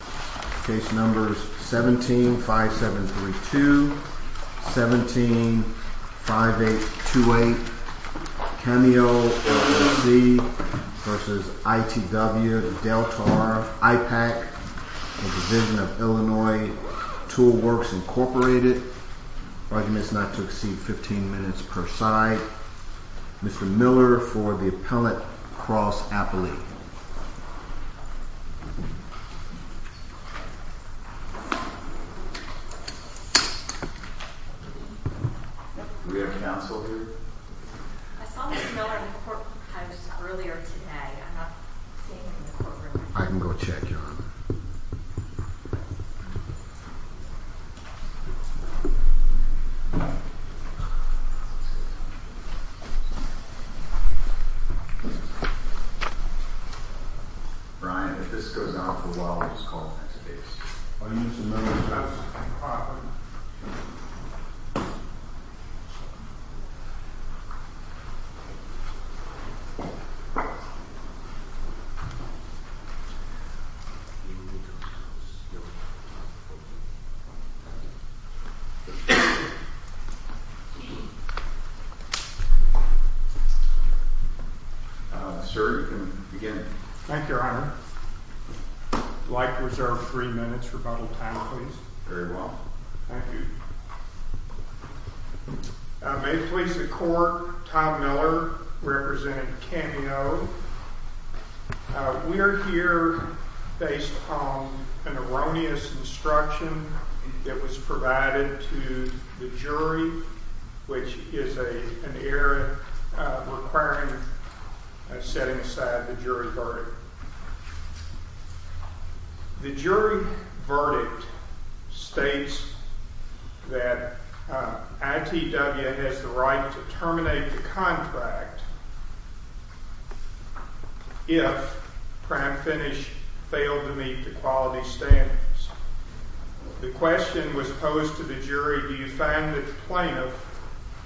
17-5732, 17-5828 Cameo LLC v. ITW Deltar IPAC, Division of Illinois Tool Works, Inc. Arguments not to exceed 15 minutes per side. Mr. Miller for the Appellate Cross Appellate. We have counsel here. I saw Mr. Miller in the courtroom earlier today. I'm not seeing him in the courtroom. I can go check. Thank you. Brian, if this goes on for a while, we'll just call it as it is. I'll use the memory test properly. Sir, you can begin. Thank you, Your Honor. I'd like to reserve three minutes rebuttal time, please. Very well. Thank you. May it please the Court, Tom Miller representing Cameo. We're here based on an erroneous instruction that was provided to the jury, which is an error requiring setting aside the jury verdict. The jury verdict states that ITW has the right to terminate the contract if Prime Finish failed to meet the quality standards. The question was posed to the jury, do you find that the plaintiff,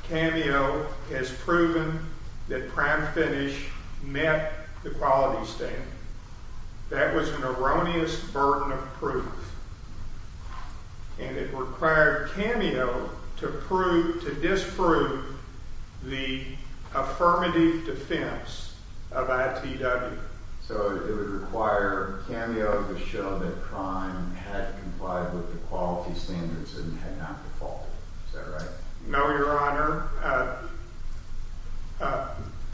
Cameo, has proven that Prime Finish met the quality standards? That was an erroneous burden of proof, and it required Cameo to disprove the affirmative defense of ITW. So it would require Cameo to show that Prime had complied with the quality standards and had not defaulted. Is that right? No, Your Honor.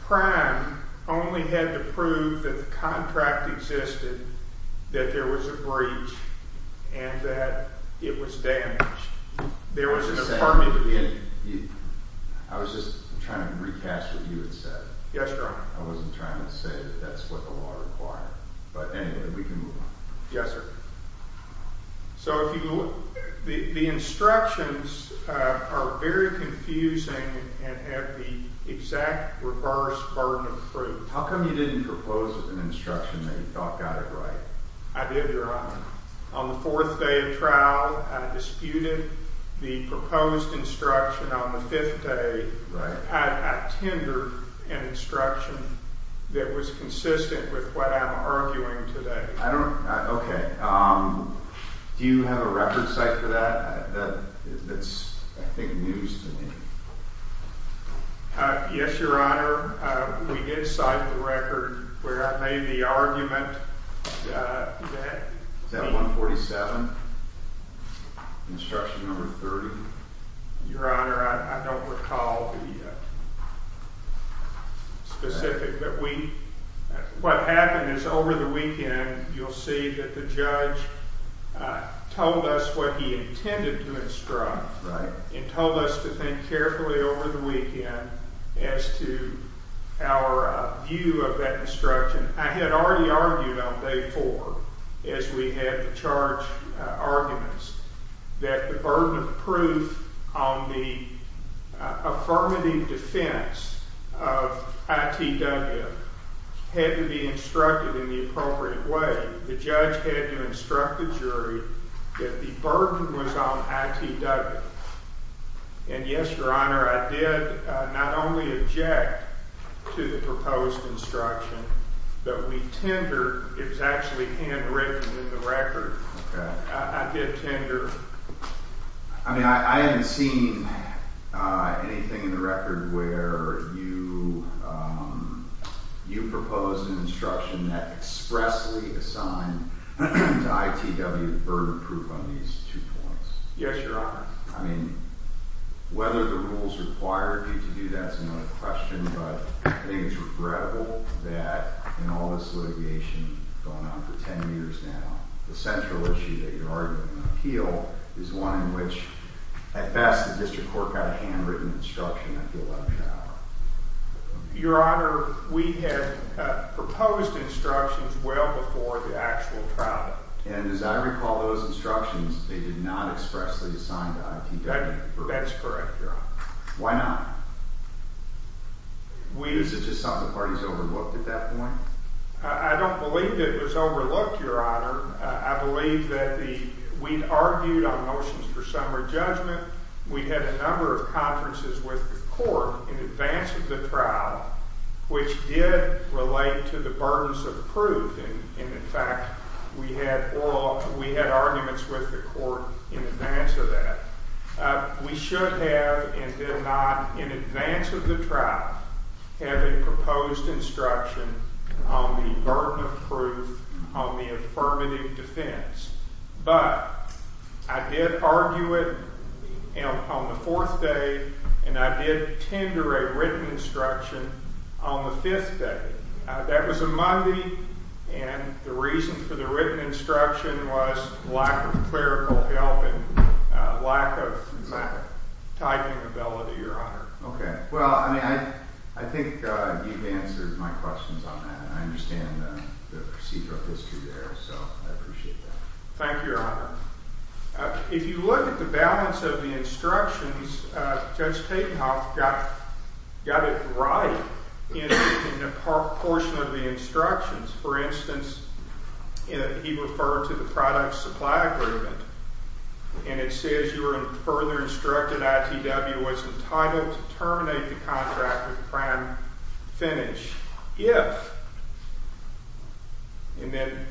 Prime only had to prove that the contract existed, that there was a breach, and that it was damaged. I was just trying to recast what you had said. Yes, Your Honor. I wasn't trying to say that that's what the law required. But anyway, we can move on. Yes, sir. So the instructions are very confusing and have the exact reverse burden of proof. How come you didn't propose an instruction that you thought got it right? I did, Your Honor. On the fourth day of trial, I disputed the proposed instruction on the fifth day. I tendered an instruction that was consistent with what I'm arguing today. Okay. Do you have a record cite for that? That's, I think, news to me. Yes, Your Honor. We did cite the record where I made the argument. Is that 147? Instruction number 30? Your Honor, I don't recall the specific. What happened is, over the weekend, you'll see that the judge told us what he intended to instruct. Right. And told us to think carefully over the weekend as to our view of that instruction. I had already argued on day four, as we had the charge arguments, that the burden of proof on the affirmative defense of ITW had to be instructed in the appropriate way. The judge had to instruct the jury that the burden was on ITW. And yes, Your Honor, I did not only object to the proposed instruction, but we tendered. It was actually handwritten in the record. Okay. I did tender. I mean, I haven't seen anything in the record where you proposed an instruction that expressly assigned to ITW the burden of proof on these two points. Yes, Your Honor. I mean, whether the rules required you to do that is another question, but I think it's regrettable that in all this litigation going on for 10 years now, the central issue that you're arguing in the appeal is one in which, at best, the district court got a handwritten instruction that filled out an hour. Your Honor, we had proposed instructions well before the actual trial. And as I recall those instructions, they did not expressly assign to ITW. That is correct, Your Honor. Why not? Is it just something the parties overlooked at that point? I don't believe it was overlooked, Your Honor. I believe that we argued on motions for summary judgment. We had a number of conferences with the court in advance of the trial, which did relate to the burdens of proof. And, in fact, we had arguments with the court in advance of that. We should have and did not, in advance of the trial, have a proposed instruction on the burden of proof on the affirmative defense. But I did argue it on the fourth day, and I did tender a written instruction on the fifth day. That was a Monday, and the reason for the written instruction was lack of clerical help and lack of typing ability, Your Honor. Okay. Well, I mean, I think you've answered my questions on that, and I understand the procedural history there, so I appreciate that. Thank you, Your Honor. If you look at the balance of the instructions, Judge Tatenhoff got it right in a portion of the instructions. For instance, he referred to the product supply agreement, and it says you are further instructed ITW was entitled to terminate the contract with Pram Finish if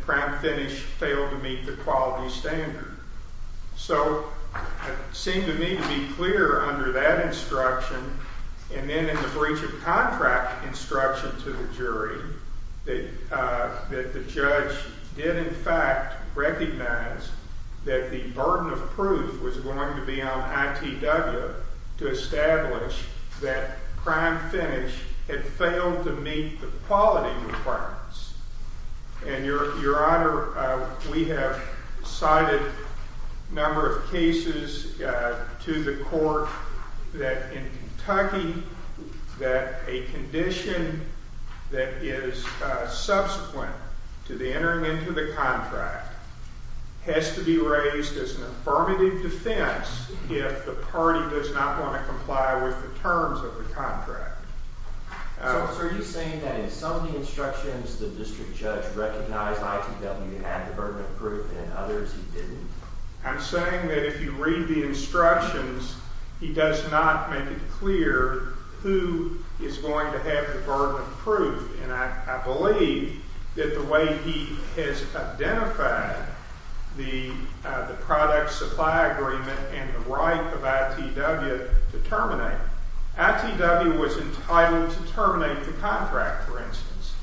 Pram Finish failed to meet the quality standard. So it seemed to me to be clear under that instruction, and then in the breach of contract instruction to the jury, that the judge did, in fact, recognize that the burden of proof was going to be on ITW to establish that Pram Finish had failed to meet the quality requirements. And, Your Honor, we have cited a number of cases to the court that in Kentucky, that a condition that is subsequent to the entering into the contract has to be raised as an affirmative defense if the party does not want to comply with the terms of the contract. So are you saying that in some of the instructions, the district judge recognized ITW had the burden of proof and in others he didn't? I'm saying that if you read the instructions, he does not make it clear who is going to have the burden of proof. And I believe that the way he has identified the product supply agreement and the right of ITW to terminate, ITW was entitled to terminate the contract, for instance.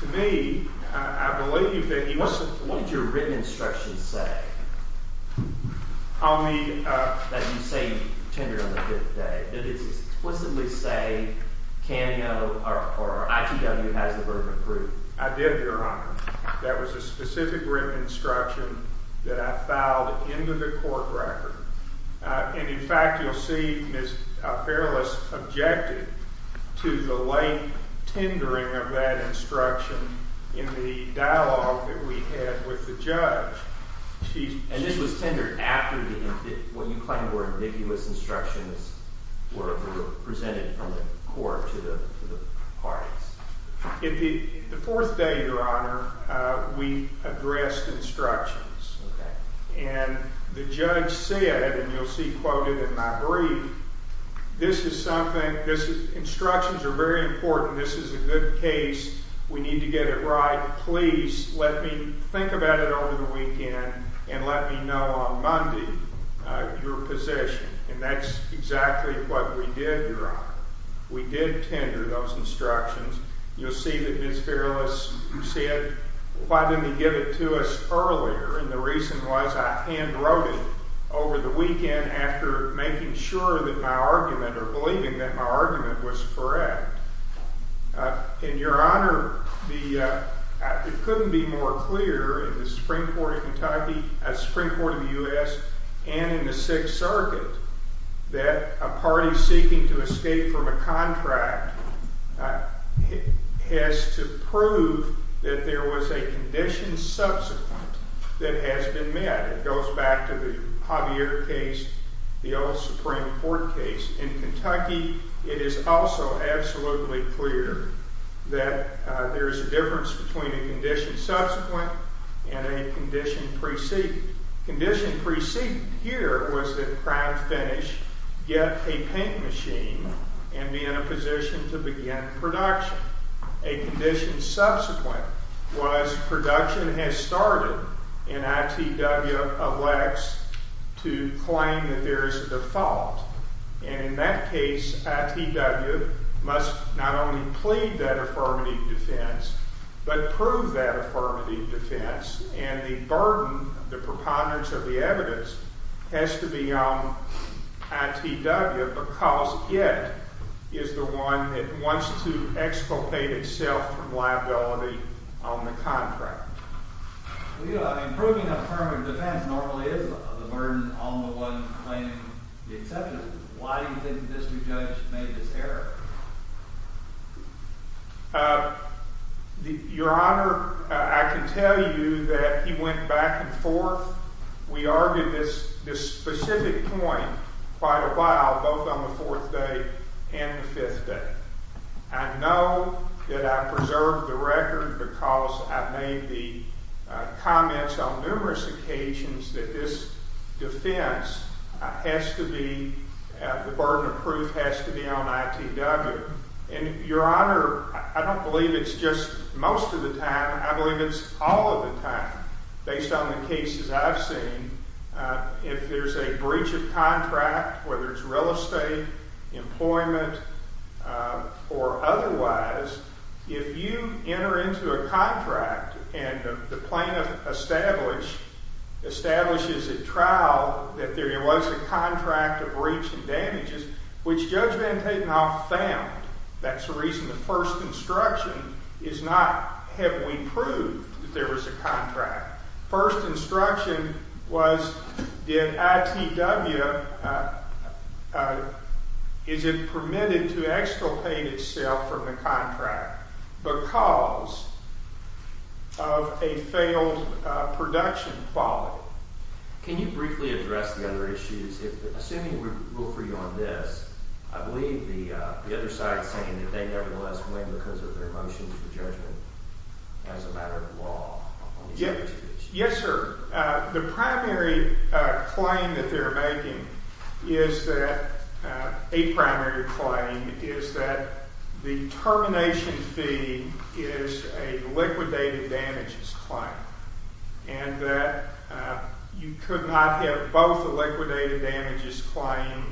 To me, I believe that he wasn't. What did your written instruction say that you say you tendered on the fifth day? Did it explicitly say ITW has the burden of proof? I did, Your Honor. That was a specific written instruction that I filed into the court record. And, in fact, you'll see Ms. Perilous objected to the late tendering of that instruction in the dialogue that we had with the judge. And this was tendered after what you claim were ambiguous instructions were presented from the court to the parties? The fourth day, Your Honor, we addressed instructions. Okay. And the judge said, and you'll see quoted in my brief, this is something, instructions are very important, this is a good case, we need to get it right, please let me think about it over the weekend and let me know on Monday your position. And that's exactly what we did, Your Honor. We did tender those instructions. You'll see that Ms. Perilous said, why didn't he give it to us earlier? And the reason was I hand wrote it over the weekend after making sure that my argument or believing that my argument was correct. And, Your Honor, it couldn't be more clear in the Supreme Court of Kentucky, the Supreme Court of the U.S., and in the Sixth Circuit that a party seeking to escape from a contract has to prove that there was a condition subsequent that has been met. It goes back to the Javier case, the old Supreme Court case. In Kentucky, it is also absolutely clear that there is a difference between a condition subsequent and a condition preceded. Condition preceded here was that Crown Finish get a paint machine and be in a position to begin production. A condition subsequent was production has started and ITW elects to claim that there is a default. And in that case, ITW must not only plead that affirmative defense but prove that affirmative defense. And the burden, the preponderance of the evidence has to be on ITW because it is the one that wants to exculpate itself from liability on the contract. Improving affirmative defense normally is the burden on the one claiming the exception. Why do you think this new judge made this error? Your Honor, I can tell you that he went back and forth. We argued this specific point quite a while, both on the fourth day and the fifth day. I know that I preserved the record because I've made the comments on numerous occasions that this defense has to be, the burden of proof has to be on ITW. And Your Honor, I don't believe it's just most of the time. Or otherwise, if you enter into a contract and the plaintiff establishes at trial that there was a contract of breach and damages, which Judge Van Tatenhoff found, that's the reason the first instruction is not have we proved that there was a contract. The first instruction was did ITW, is it permitted to exculpate itself from the contract because of a failed production quality? Can you briefly address the other issues? Assuming we rule for you on this, I believe the other side is saying that they nevertheless win because of their motion for judgment as a matter of law. Yes, sir. The primary claim that they're making is that, a primary claim, is that the termination fee is a liquidated damages claim. And that you could not have both a liquidated damages claim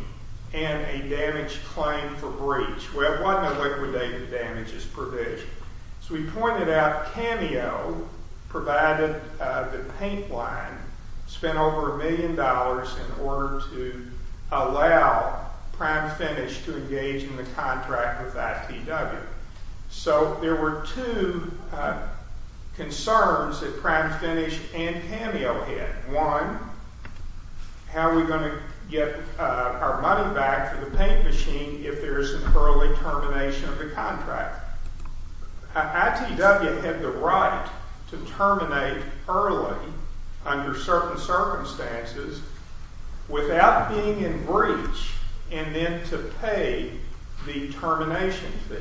and a damage claim for breach. Well, it wasn't a liquidated damages provision. As we pointed out, Cameo provided the paint line, spent over a million dollars in order to allow Prime Finish to engage in the contract with ITW. So there were two concerns that Prime Finish and Cameo had. One, how are we going to get our money back for the paint machine if there is an early termination of the contract? ITW had the right to terminate early under certain circumstances without being in breach and then to pay the termination fee.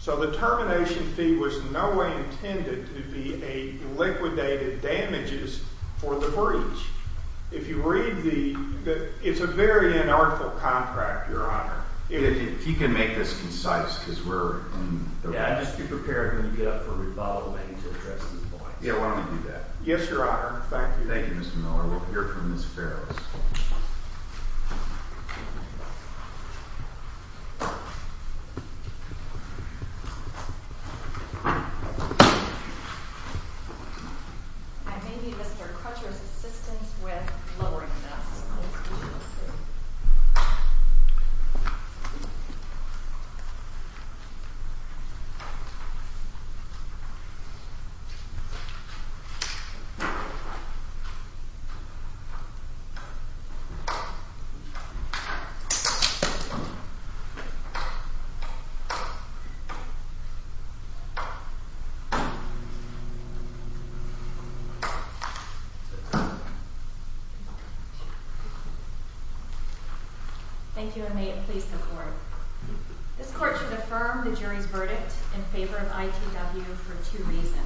So the termination fee was in no way intended to be a liquidated damages for the breach. If you read the – it's a very unartful contract, Your Honor. If you can make this concise, because we're in – Yeah, just be prepared when you get up for rebuttal, maybe to address these points. Yeah, why don't we do that? Yes, Your Honor. Thank you. Thank you, Mr. Miller. We'll hear from Ms. Ferris. I may need Mr. Crutcher's assistance with lowering this. Thank you, and may it please the Court. This Court should affirm the jury's verdict in favor of ITW for two reasons.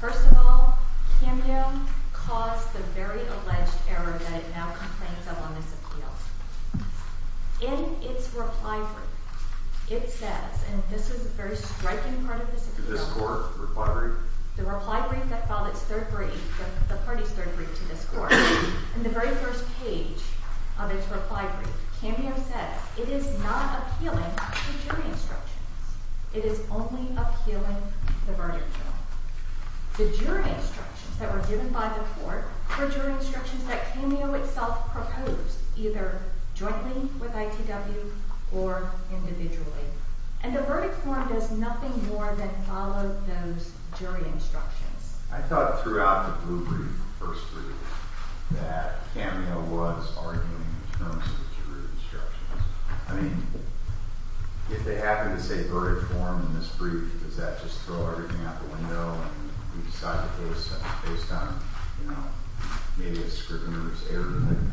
First of all, Cameo caused the very alleged error that it now complains of on this appeal. In its reply brief, it says – and this is a very striking part of this appeal. This Court's reply brief? The reply brief that filed its third brief, the party's third brief to this Court. In the very first page of its reply brief, Cameo says it is not appealing to jury instructions. It is only appealing the verdict, Your Honor. The jury instructions that were given by the Court were jury instructions that Cameo itself proposed, either jointly with ITW or individually. And the verdict form does nothing more than follow those jury instructions. I thought throughout the blue brief, the first brief, that Cameo was arguing in terms of jury instructions. I mean, if they happen to say verdict form in this brief, does that just throw everything out the window and we decide that it was based on, you know, maybe a scrivener's error or something?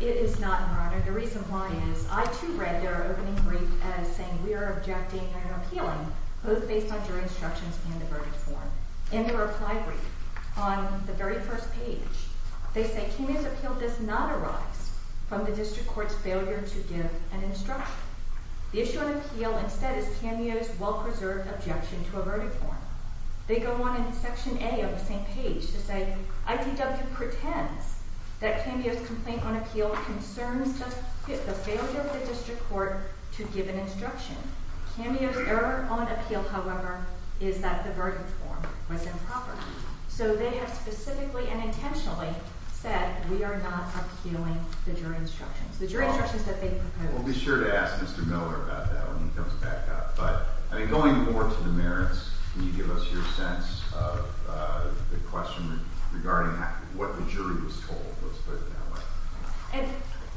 It is not, Your Honor. The reason why is ITW read their opening brief as saying we are objecting and appealing, both based on jury instructions and the verdict form. In the reply brief, on the very first page, they say Cameo's appeal does not arise from the District Court's failure to give an instruction. The issue on appeal, instead, is Cameo's well-preserved objection to a verdict form. They go on in Section A of the same page to say ITW pretends that Cameo's complaint on appeal concerns just the failure of the District Court to give an instruction. Cameo's error on appeal, however, is that the verdict form was improper. So they have specifically and intentionally said we are not appealing the jury instructions, the jury instructions that they proposed. We'll be sure to ask Mr. Miller about that when he comes back up. But I think going more to the merits, can you give us your sense of the question regarding what the jury was told? Let's put it that way. And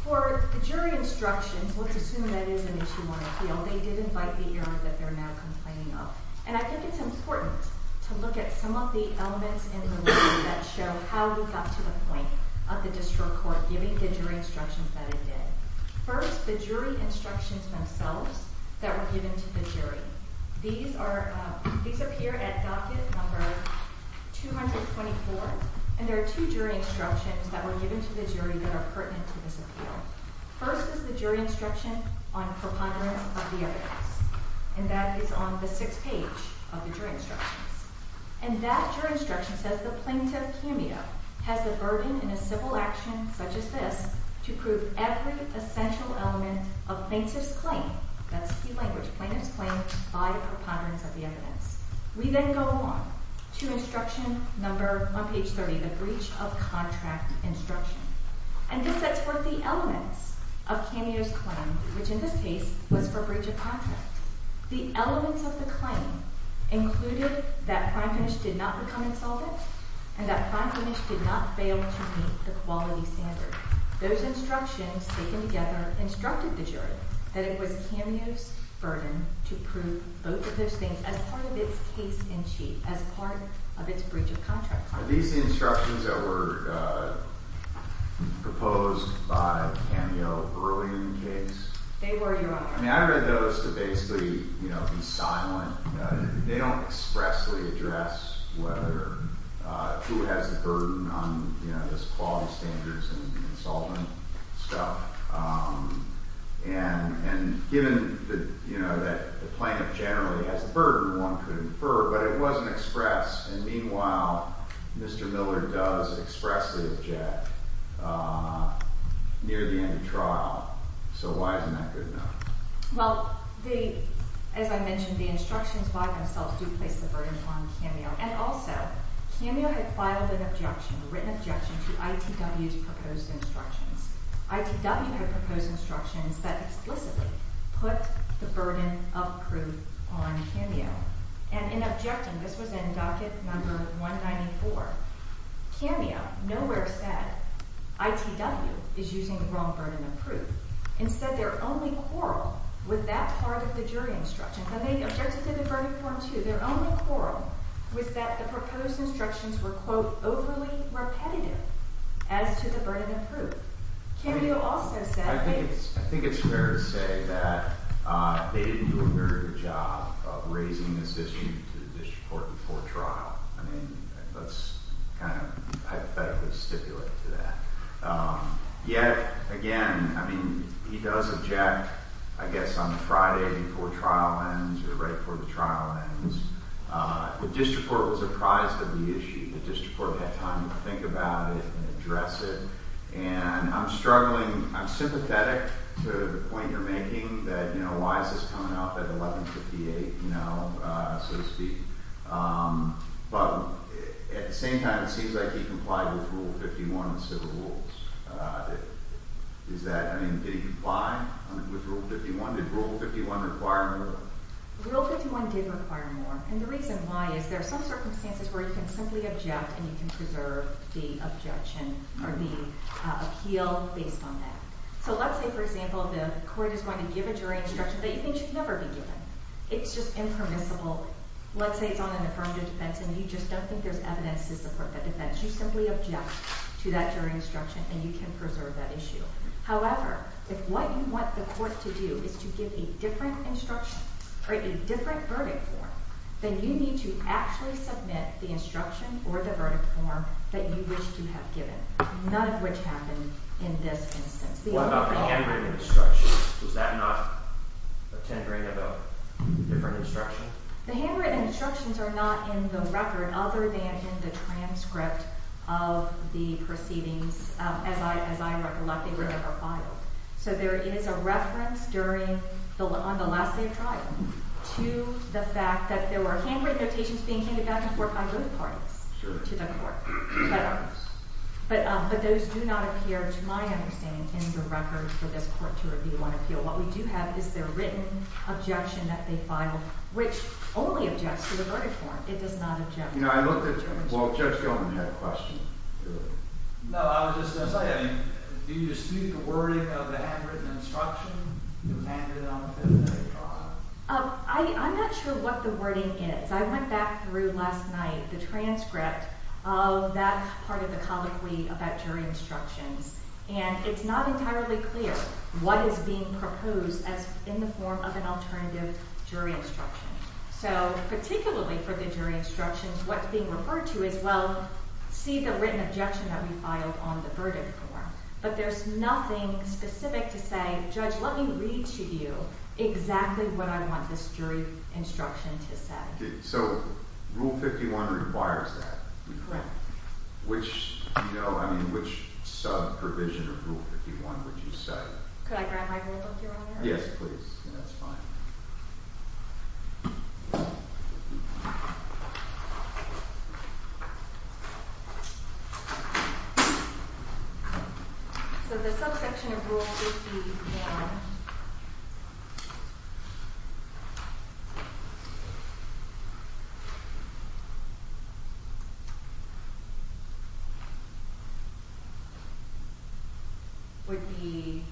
for the jury instructions, let's assume that is an issue on appeal. They did invite the error that they're now complaining of. And I think it's important to look at some of the elements in the ruling that show how we got to the point of the District Court giving the jury instructions that it did. First, the jury instructions themselves that were given to the jury. These appear at docket number 224, and there are two jury instructions that were given to the jury that are pertinent to this appeal. First is the jury instruction on preponderance of the evidence. And that is on the sixth page of the jury instructions. And that jury instruction says the plaintiff, Cameo, has the burden in a civil action such as this to prove every essential element of plaintiff's claim, that's the language, plaintiff's claim by preponderance of the evidence. We then go on to instruction number, on page 30, the breach of contract instruction. And this sets forth the elements of Cameo's claim, which in this case was for breach of contract. The elements of the claim included that prime finish did not become insolvent and that prime finish did not fail to meet the quality standard. Those instructions taken together instructed the jury that it was Cameo's burden to prove both of those things as part of its case in chief, as part of its breach of contract. Are these the instructions that were proposed by Cameo early in the case? They were, Your Honor. I mean, I read those to basically, you know, be silent. They don't expressly address whether, who has the burden on, you know, this quality standards and insolvent stuff. And given, you know, that the plaintiff generally has the burden, one could infer, but it wasn't expressed. And meanwhile, Mr. Miller does expressly object near the end of trial. So why isn't that good enough? Well, as I mentioned, the instructions by themselves do place the burden on Cameo. And also, Cameo had filed an objection, a written objection, to ITW's proposed instructions. ITW had proposed instructions that explicitly put the burden of proof on Cameo. And in objecting, this was in docket number 194, Cameo nowhere said, ITW is using the wrong burden of proof. Instead, their only quarrel with that part of the jury instruction, and they objected to the verdict form, too, their only quarrel was that the proposed instructions were, quote, overly repetitive as to the burden of proof. Cameo also said they— to the district court before trial. I mean, let's kind of hypothetically stipulate to that. Yet again, I mean, he does object, I guess, on Friday before trial ends or right before the trial ends. The district court was apprised of the issue. The district court had time to think about it and address it. And I'm struggling—I'm sympathetic to the point you're making that, you know, why is this coming up at 1158, you know, so to speak? But at the same time, it seems like he complied with Rule 51 and civil rules. Is that—I mean, did he comply with Rule 51? Did Rule 51 require more? Rule 51 did require more. And the reason why is there are some circumstances where you can simply object and you can preserve the objection or the appeal based on that. So let's say, for example, the court is going to give a jury instruction that you think should never be given. It's just impermissible. Let's say it's on an affirmative defense and you just don't think there's evidence to support that defense. You simply object to that jury instruction and you can preserve that issue. However, if what you want the court to do is to give a different instruction or a different verdict form, then you need to actually submit the instruction or the verdict form that you wish to have given, none of which happened in this instance. What about the handwritten instructions? Was that not a tendering of a different instruction? The handwritten instructions are not in the record other than in the transcript of the proceedings, as I recollect. They were never filed. So there is a reference during the—on the last day of trial to the court. But those do not appear, to my understanding, in the record for this court to review on appeal. What we do have is their written objection that they filed, which only objects to the verdict form. It does not object to the jury instruction. Well, Judge Goldman had a question. No, I was just going to say, I mean, do you dispute the wording of the handwritten instruction that was handed on the fifth day of trial? I'm not sure what the wording is. I went back through last night the transcript of that part of the colloquy about jury instructions, and it's not entirely clear what is being proposed as in the form of an alternative jury instruction. So particularly for the jury instructions, what's being referred to is, well, see the written objection that we filed on the verdict form. But there's nothing specific to say, Judge, let me read to you exactly what I want this jury instruction to say. So Rule 51 requires that. Correct. Which, you know, I mean, which sub-provision of Rule 51 would you say? Could I grab my notebook, Your Honor? Yes, please. That's fine. So the subsection of Rule 51... would be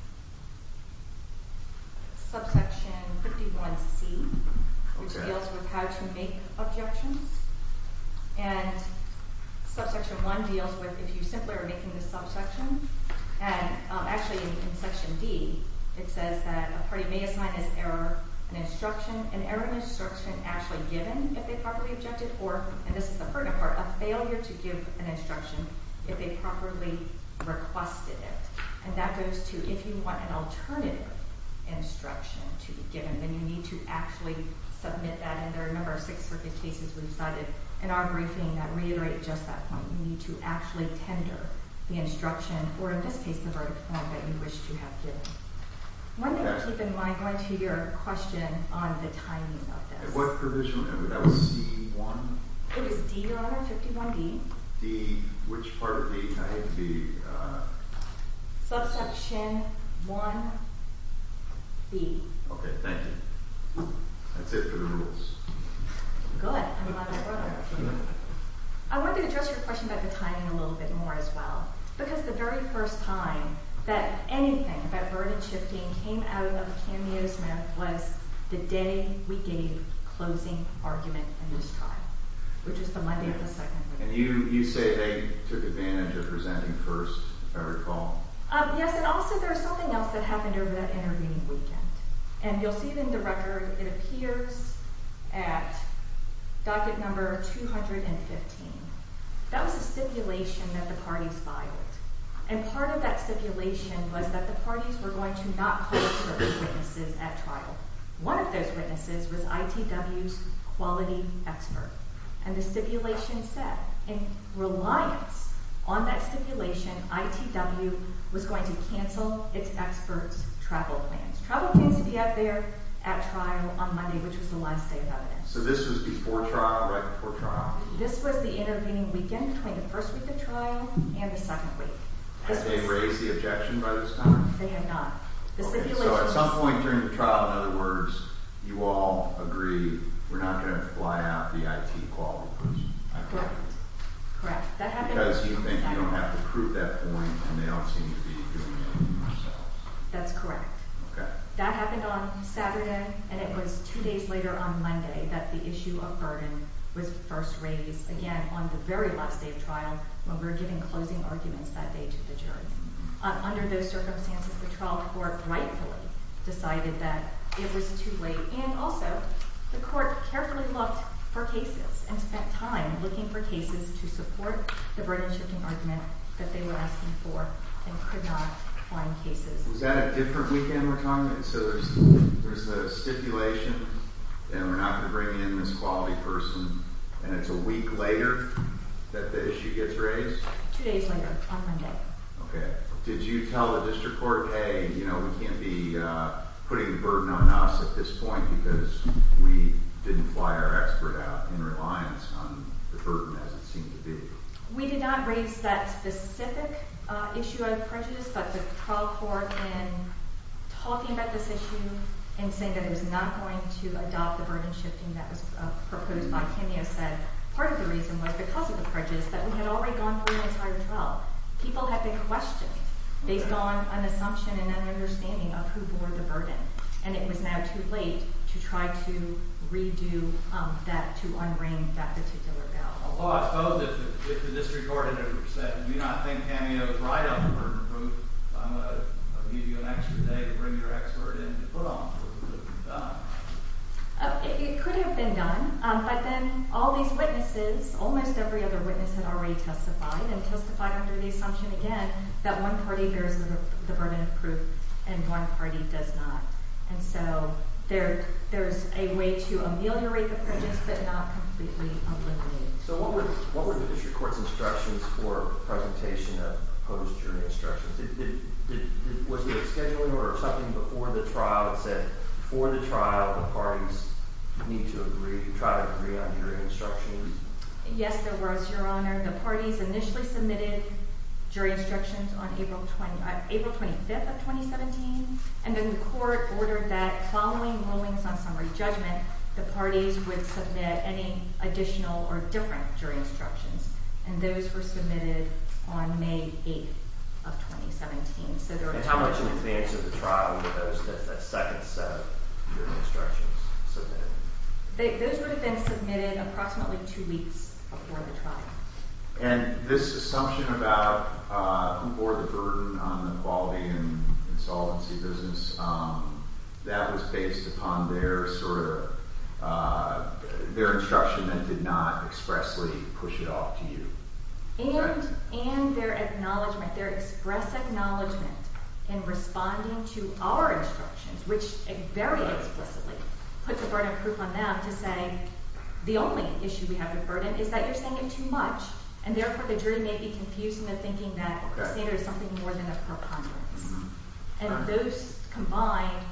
subsection 51C, which deals with how to make objections. And subsection 1 deals with if you simply are making the subsection, and actually in section D it says that a party may assign as error an instruction, an error instruction actually given if they properly objected, or, and this is the pertinent part, a failure to give an instruction if they properly requested it. And that goes to if you want an alternative instruction to be given, then you need to actually submit that, and there are a number of Sixth Circuit cases we've cited in our briefing that reiterate just that point. You need to actually tender the instruction, or in this case the verdict form, that you wish to have given. One thing to keep in mind going to your question on the timing of this. What provision would that be, C1? It is D, Your Honor, 51D. D, which part of D? I have the... Subsection 1B. Okay, thank you. That's it for the rules. Good. I'm glad I brought that up to you. I wanted to address your question about the timing a little bit more as well, because the very first time that anything, that verdict shifting, came out of Cameo Smith was the day we gave closing argument in this trial, which is the Monday of the 2nd. And you say they took advantage of presenting first, if I recall. Yes, and also there was something else that happened over that intervening weekend, and you'll see it in the record. It appears at docket number 215. That was a stipulation that the parties filed. And part of that stipulation was that the parties were going to not call certain witnesses at trial. One of those witnesses was ITW's quality expert. And the stipulation said, in reliance on that stipulation, ITW was going to cancel its expert's travel plans. Travel plans would be out there at trial on Monday, which was the last day of evidence. So this was before trial, right before trial? This was the intervening weekend between the first week of trial and the second week. Had they raised the objection by this time? They had not. Okay, so at some point during the trial, in other words, you all agreed we're not going to fly out the IT quality person. Correct. Because you think you don't have to prove that point, and they don't seem to be doing it themselves. That's correct. That happened on Saturday, and it was two days later on Monday that the issue of burden was first raised again on the very last day of trial when we were giving closing arguments that day to the jury. Under those circumstances, the trial court rightfully decided that it was too late, and also the court carefully looked for cases and spent time looking for cases to support the burden-shifting argument that they were asking for and could not find cases. Was that a different weekend retirement? So there's a stipulation that we're not going to bring in this quality person, and it's a week later that the issue gets raised? Two days later on Monday. Okay. Did you tell the district court, hey, you know, we can't be putting the burden on us at this point because we didn't fly our expert out in reliance on the burden as it seemed to be? We did not raise that specific issue of prejudice, but the trial court, in talking about this issue and saying that it was not going to adopt the burden-shifting that was proposed by Cameo, said part of the reason was because of the prejudice that we had already gone through the entire trial. People had been questioned based on an assumption and an understanding of who bore the burden, and it was now too late to try to redo that, to un-ring that particular bell. Although I spoke with the district court, and I said, you know, I think Cameo is right on the burden of proof. I'm going to leave you an extra day to bring your expert in to put on the proof that we've done. It could have been done, but then all these witnesses, almost every other witness had already testified and testified under the assumption, again, that one party hears the burden of proof and one party does not. And so there's a way to ameliorate the prejudice but not completely eliminate it. So what were the district court's instructions for presentation of post-jury instructions? Was there a scheduling order or something before the trial that said before the trial the parties need to agree, try to agree on jury instructions? Yes, there was, Your Honor. The parties initially submitted jury instructions on April 25th of 2017, and then the court ordered that following rulings on summary judgment, the parties would submit any additional or different jury instructions, and those were submitted on May 8th of 2017. And how much in advance of the trial were those, that second set of jury instructions submitted? Those would have been submitted approximately two weeks before the trial. And this assumption about who bore the burden on the quality and insolvency business, that was based upon their instruction that did not expressly push it off to you. And their acknowledgment, their express acknowledgment in responding to our instructions, which very explicitly put the burden of proof on them to say the only issue we have with burden is that you're saying it too much and therefore the jury may be confused in the thinking that the standard is something more than a preponderance. And those combined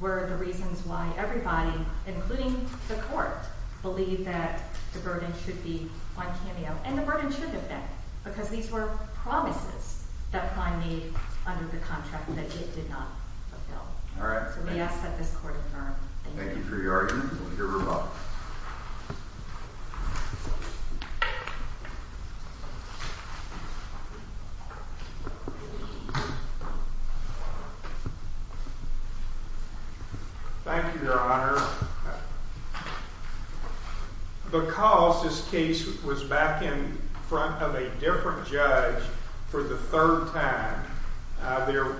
were the reasons why everybody, including the court, believed that the burden should be on Cameo, and the burden should have been, because these were promises that Prime made under the contract that it did not fulfill. All right. So we ask that this court affirm. Thank you. Thank you for your argument. We'll hear from Bob. Thank you, Your Honor. Because this case was back in front of a different judge for the third time, there were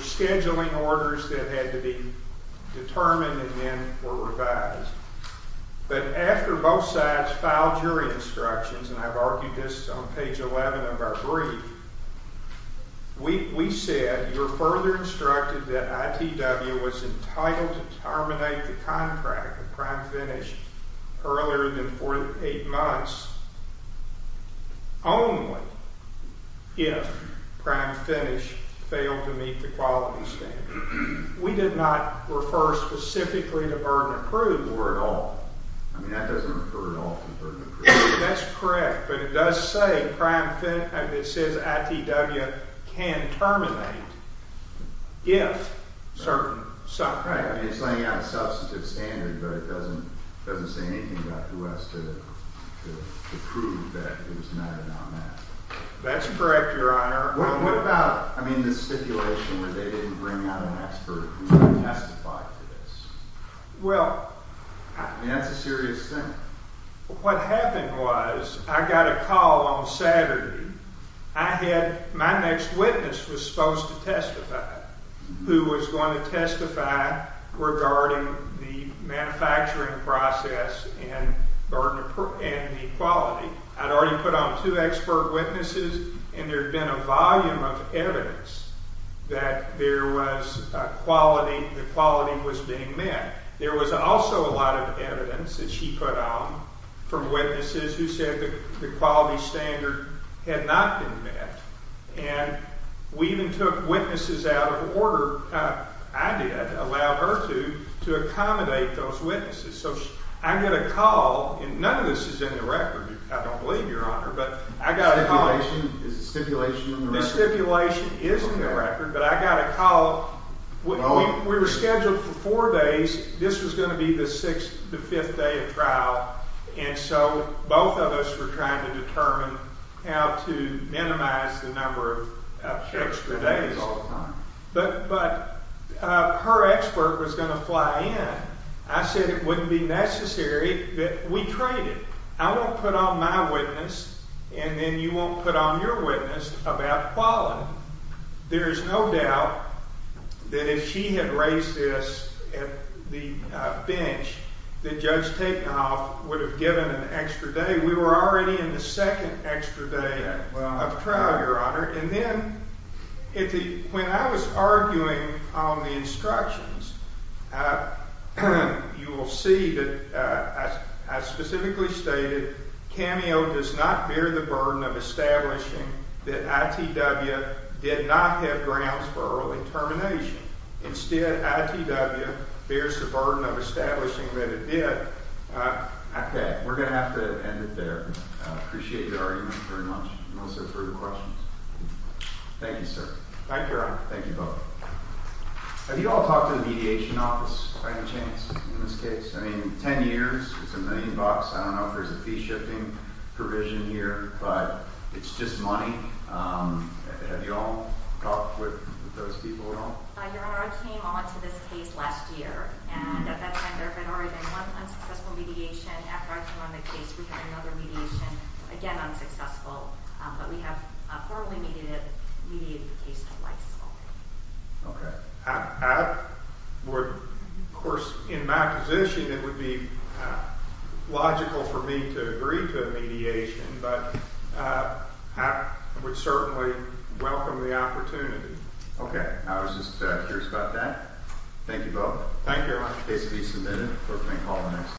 scheduling orders that had to be determined and then were revised. But after both sides filed jury instructions, and I've argued this on page 11 of our brief, we said you're further instructed that ITW was entitled to terminate the contract with Prime Finish earlier than 48 months only if Prime Finish failed to meet the quality standard. We did not refer specifically to burden of proof or at all. I mean, that doesn't refer at all to burden of proof. That's correct. But it does say Prime Finish, and it says ITW can terminate if certain circumstances. Right. I mean, it's laying out a substantive standard, but it doesn't say anything about who has to prove that it was met or not met. That's correct, Your Honor. Well, what about, I mean, the stipulation where they didn't bring out an expert who testified to this? Well. I mean, that's a serious thing. What happened was I got a call on Saturday. I had, my next witness was supposed to testify, who was going to testify regarding the manufacturing process and the quality. I'd already put on two expert witnesses, and there had been a volume of evidence that there was a quality, the quality was being met. There was also a lot of evidence that she put on from witnesses who said the quality standard had not been met. And we even took witnesses out of order, I did, allowed her to, to accommodate those witnesses. So I get a call, and none of this is in the record, I don't believe, Your Honor, but I got a call. Is the stipulation in the record? The stipulation is in the record, but I got a call. We were scheduled for four days. This was going to be the sixth, the fifth day of trial, and so both of us were trying to determine how to minimize the number of extra days. But her expert was going to fly in. I said it wouldn't be necessary, but we traded. I won't put on my witness, and then you won't put on your witness about quality. There is no doubt that if she had raised this at the bench, that Judge Takeoff would have given an extra day. We were already in the second extra day of trial, Your Honor. And then when I was arguing on the instructions, you will see that I specifically stated, CAMEO does not bear the burden of establishing that ITW did not have grounds for early termination. Instead, ITW bears the burden of establishing that it did. Okay, we're going to have to end it there. I appreciate your argument very much. Melissa, further questions? Thank you, sir. Thank you, Your Honor. Thank you both. Have you all talked to the Mediation Office by any chance in this case? I mean, ten years, it's a million bucks. I don't know if there's a fee-shifting provision here, but it's just money. Have you all talked with those people at all? Your Honor, I came on to this case last year, and at that time there had already been one unsuccessful mediation. After I came on the case, we had another mediation, again unsuccessful. But we have formally mediated the case twice. Okay. I would, of course, in my position it would be logical for me to agree to a mediation, but I would certainly welcome the opportunity. Okay. I was just curious about that. Thank you both. Thank you, Your Honor. The case will be submitted. Court may call the next time.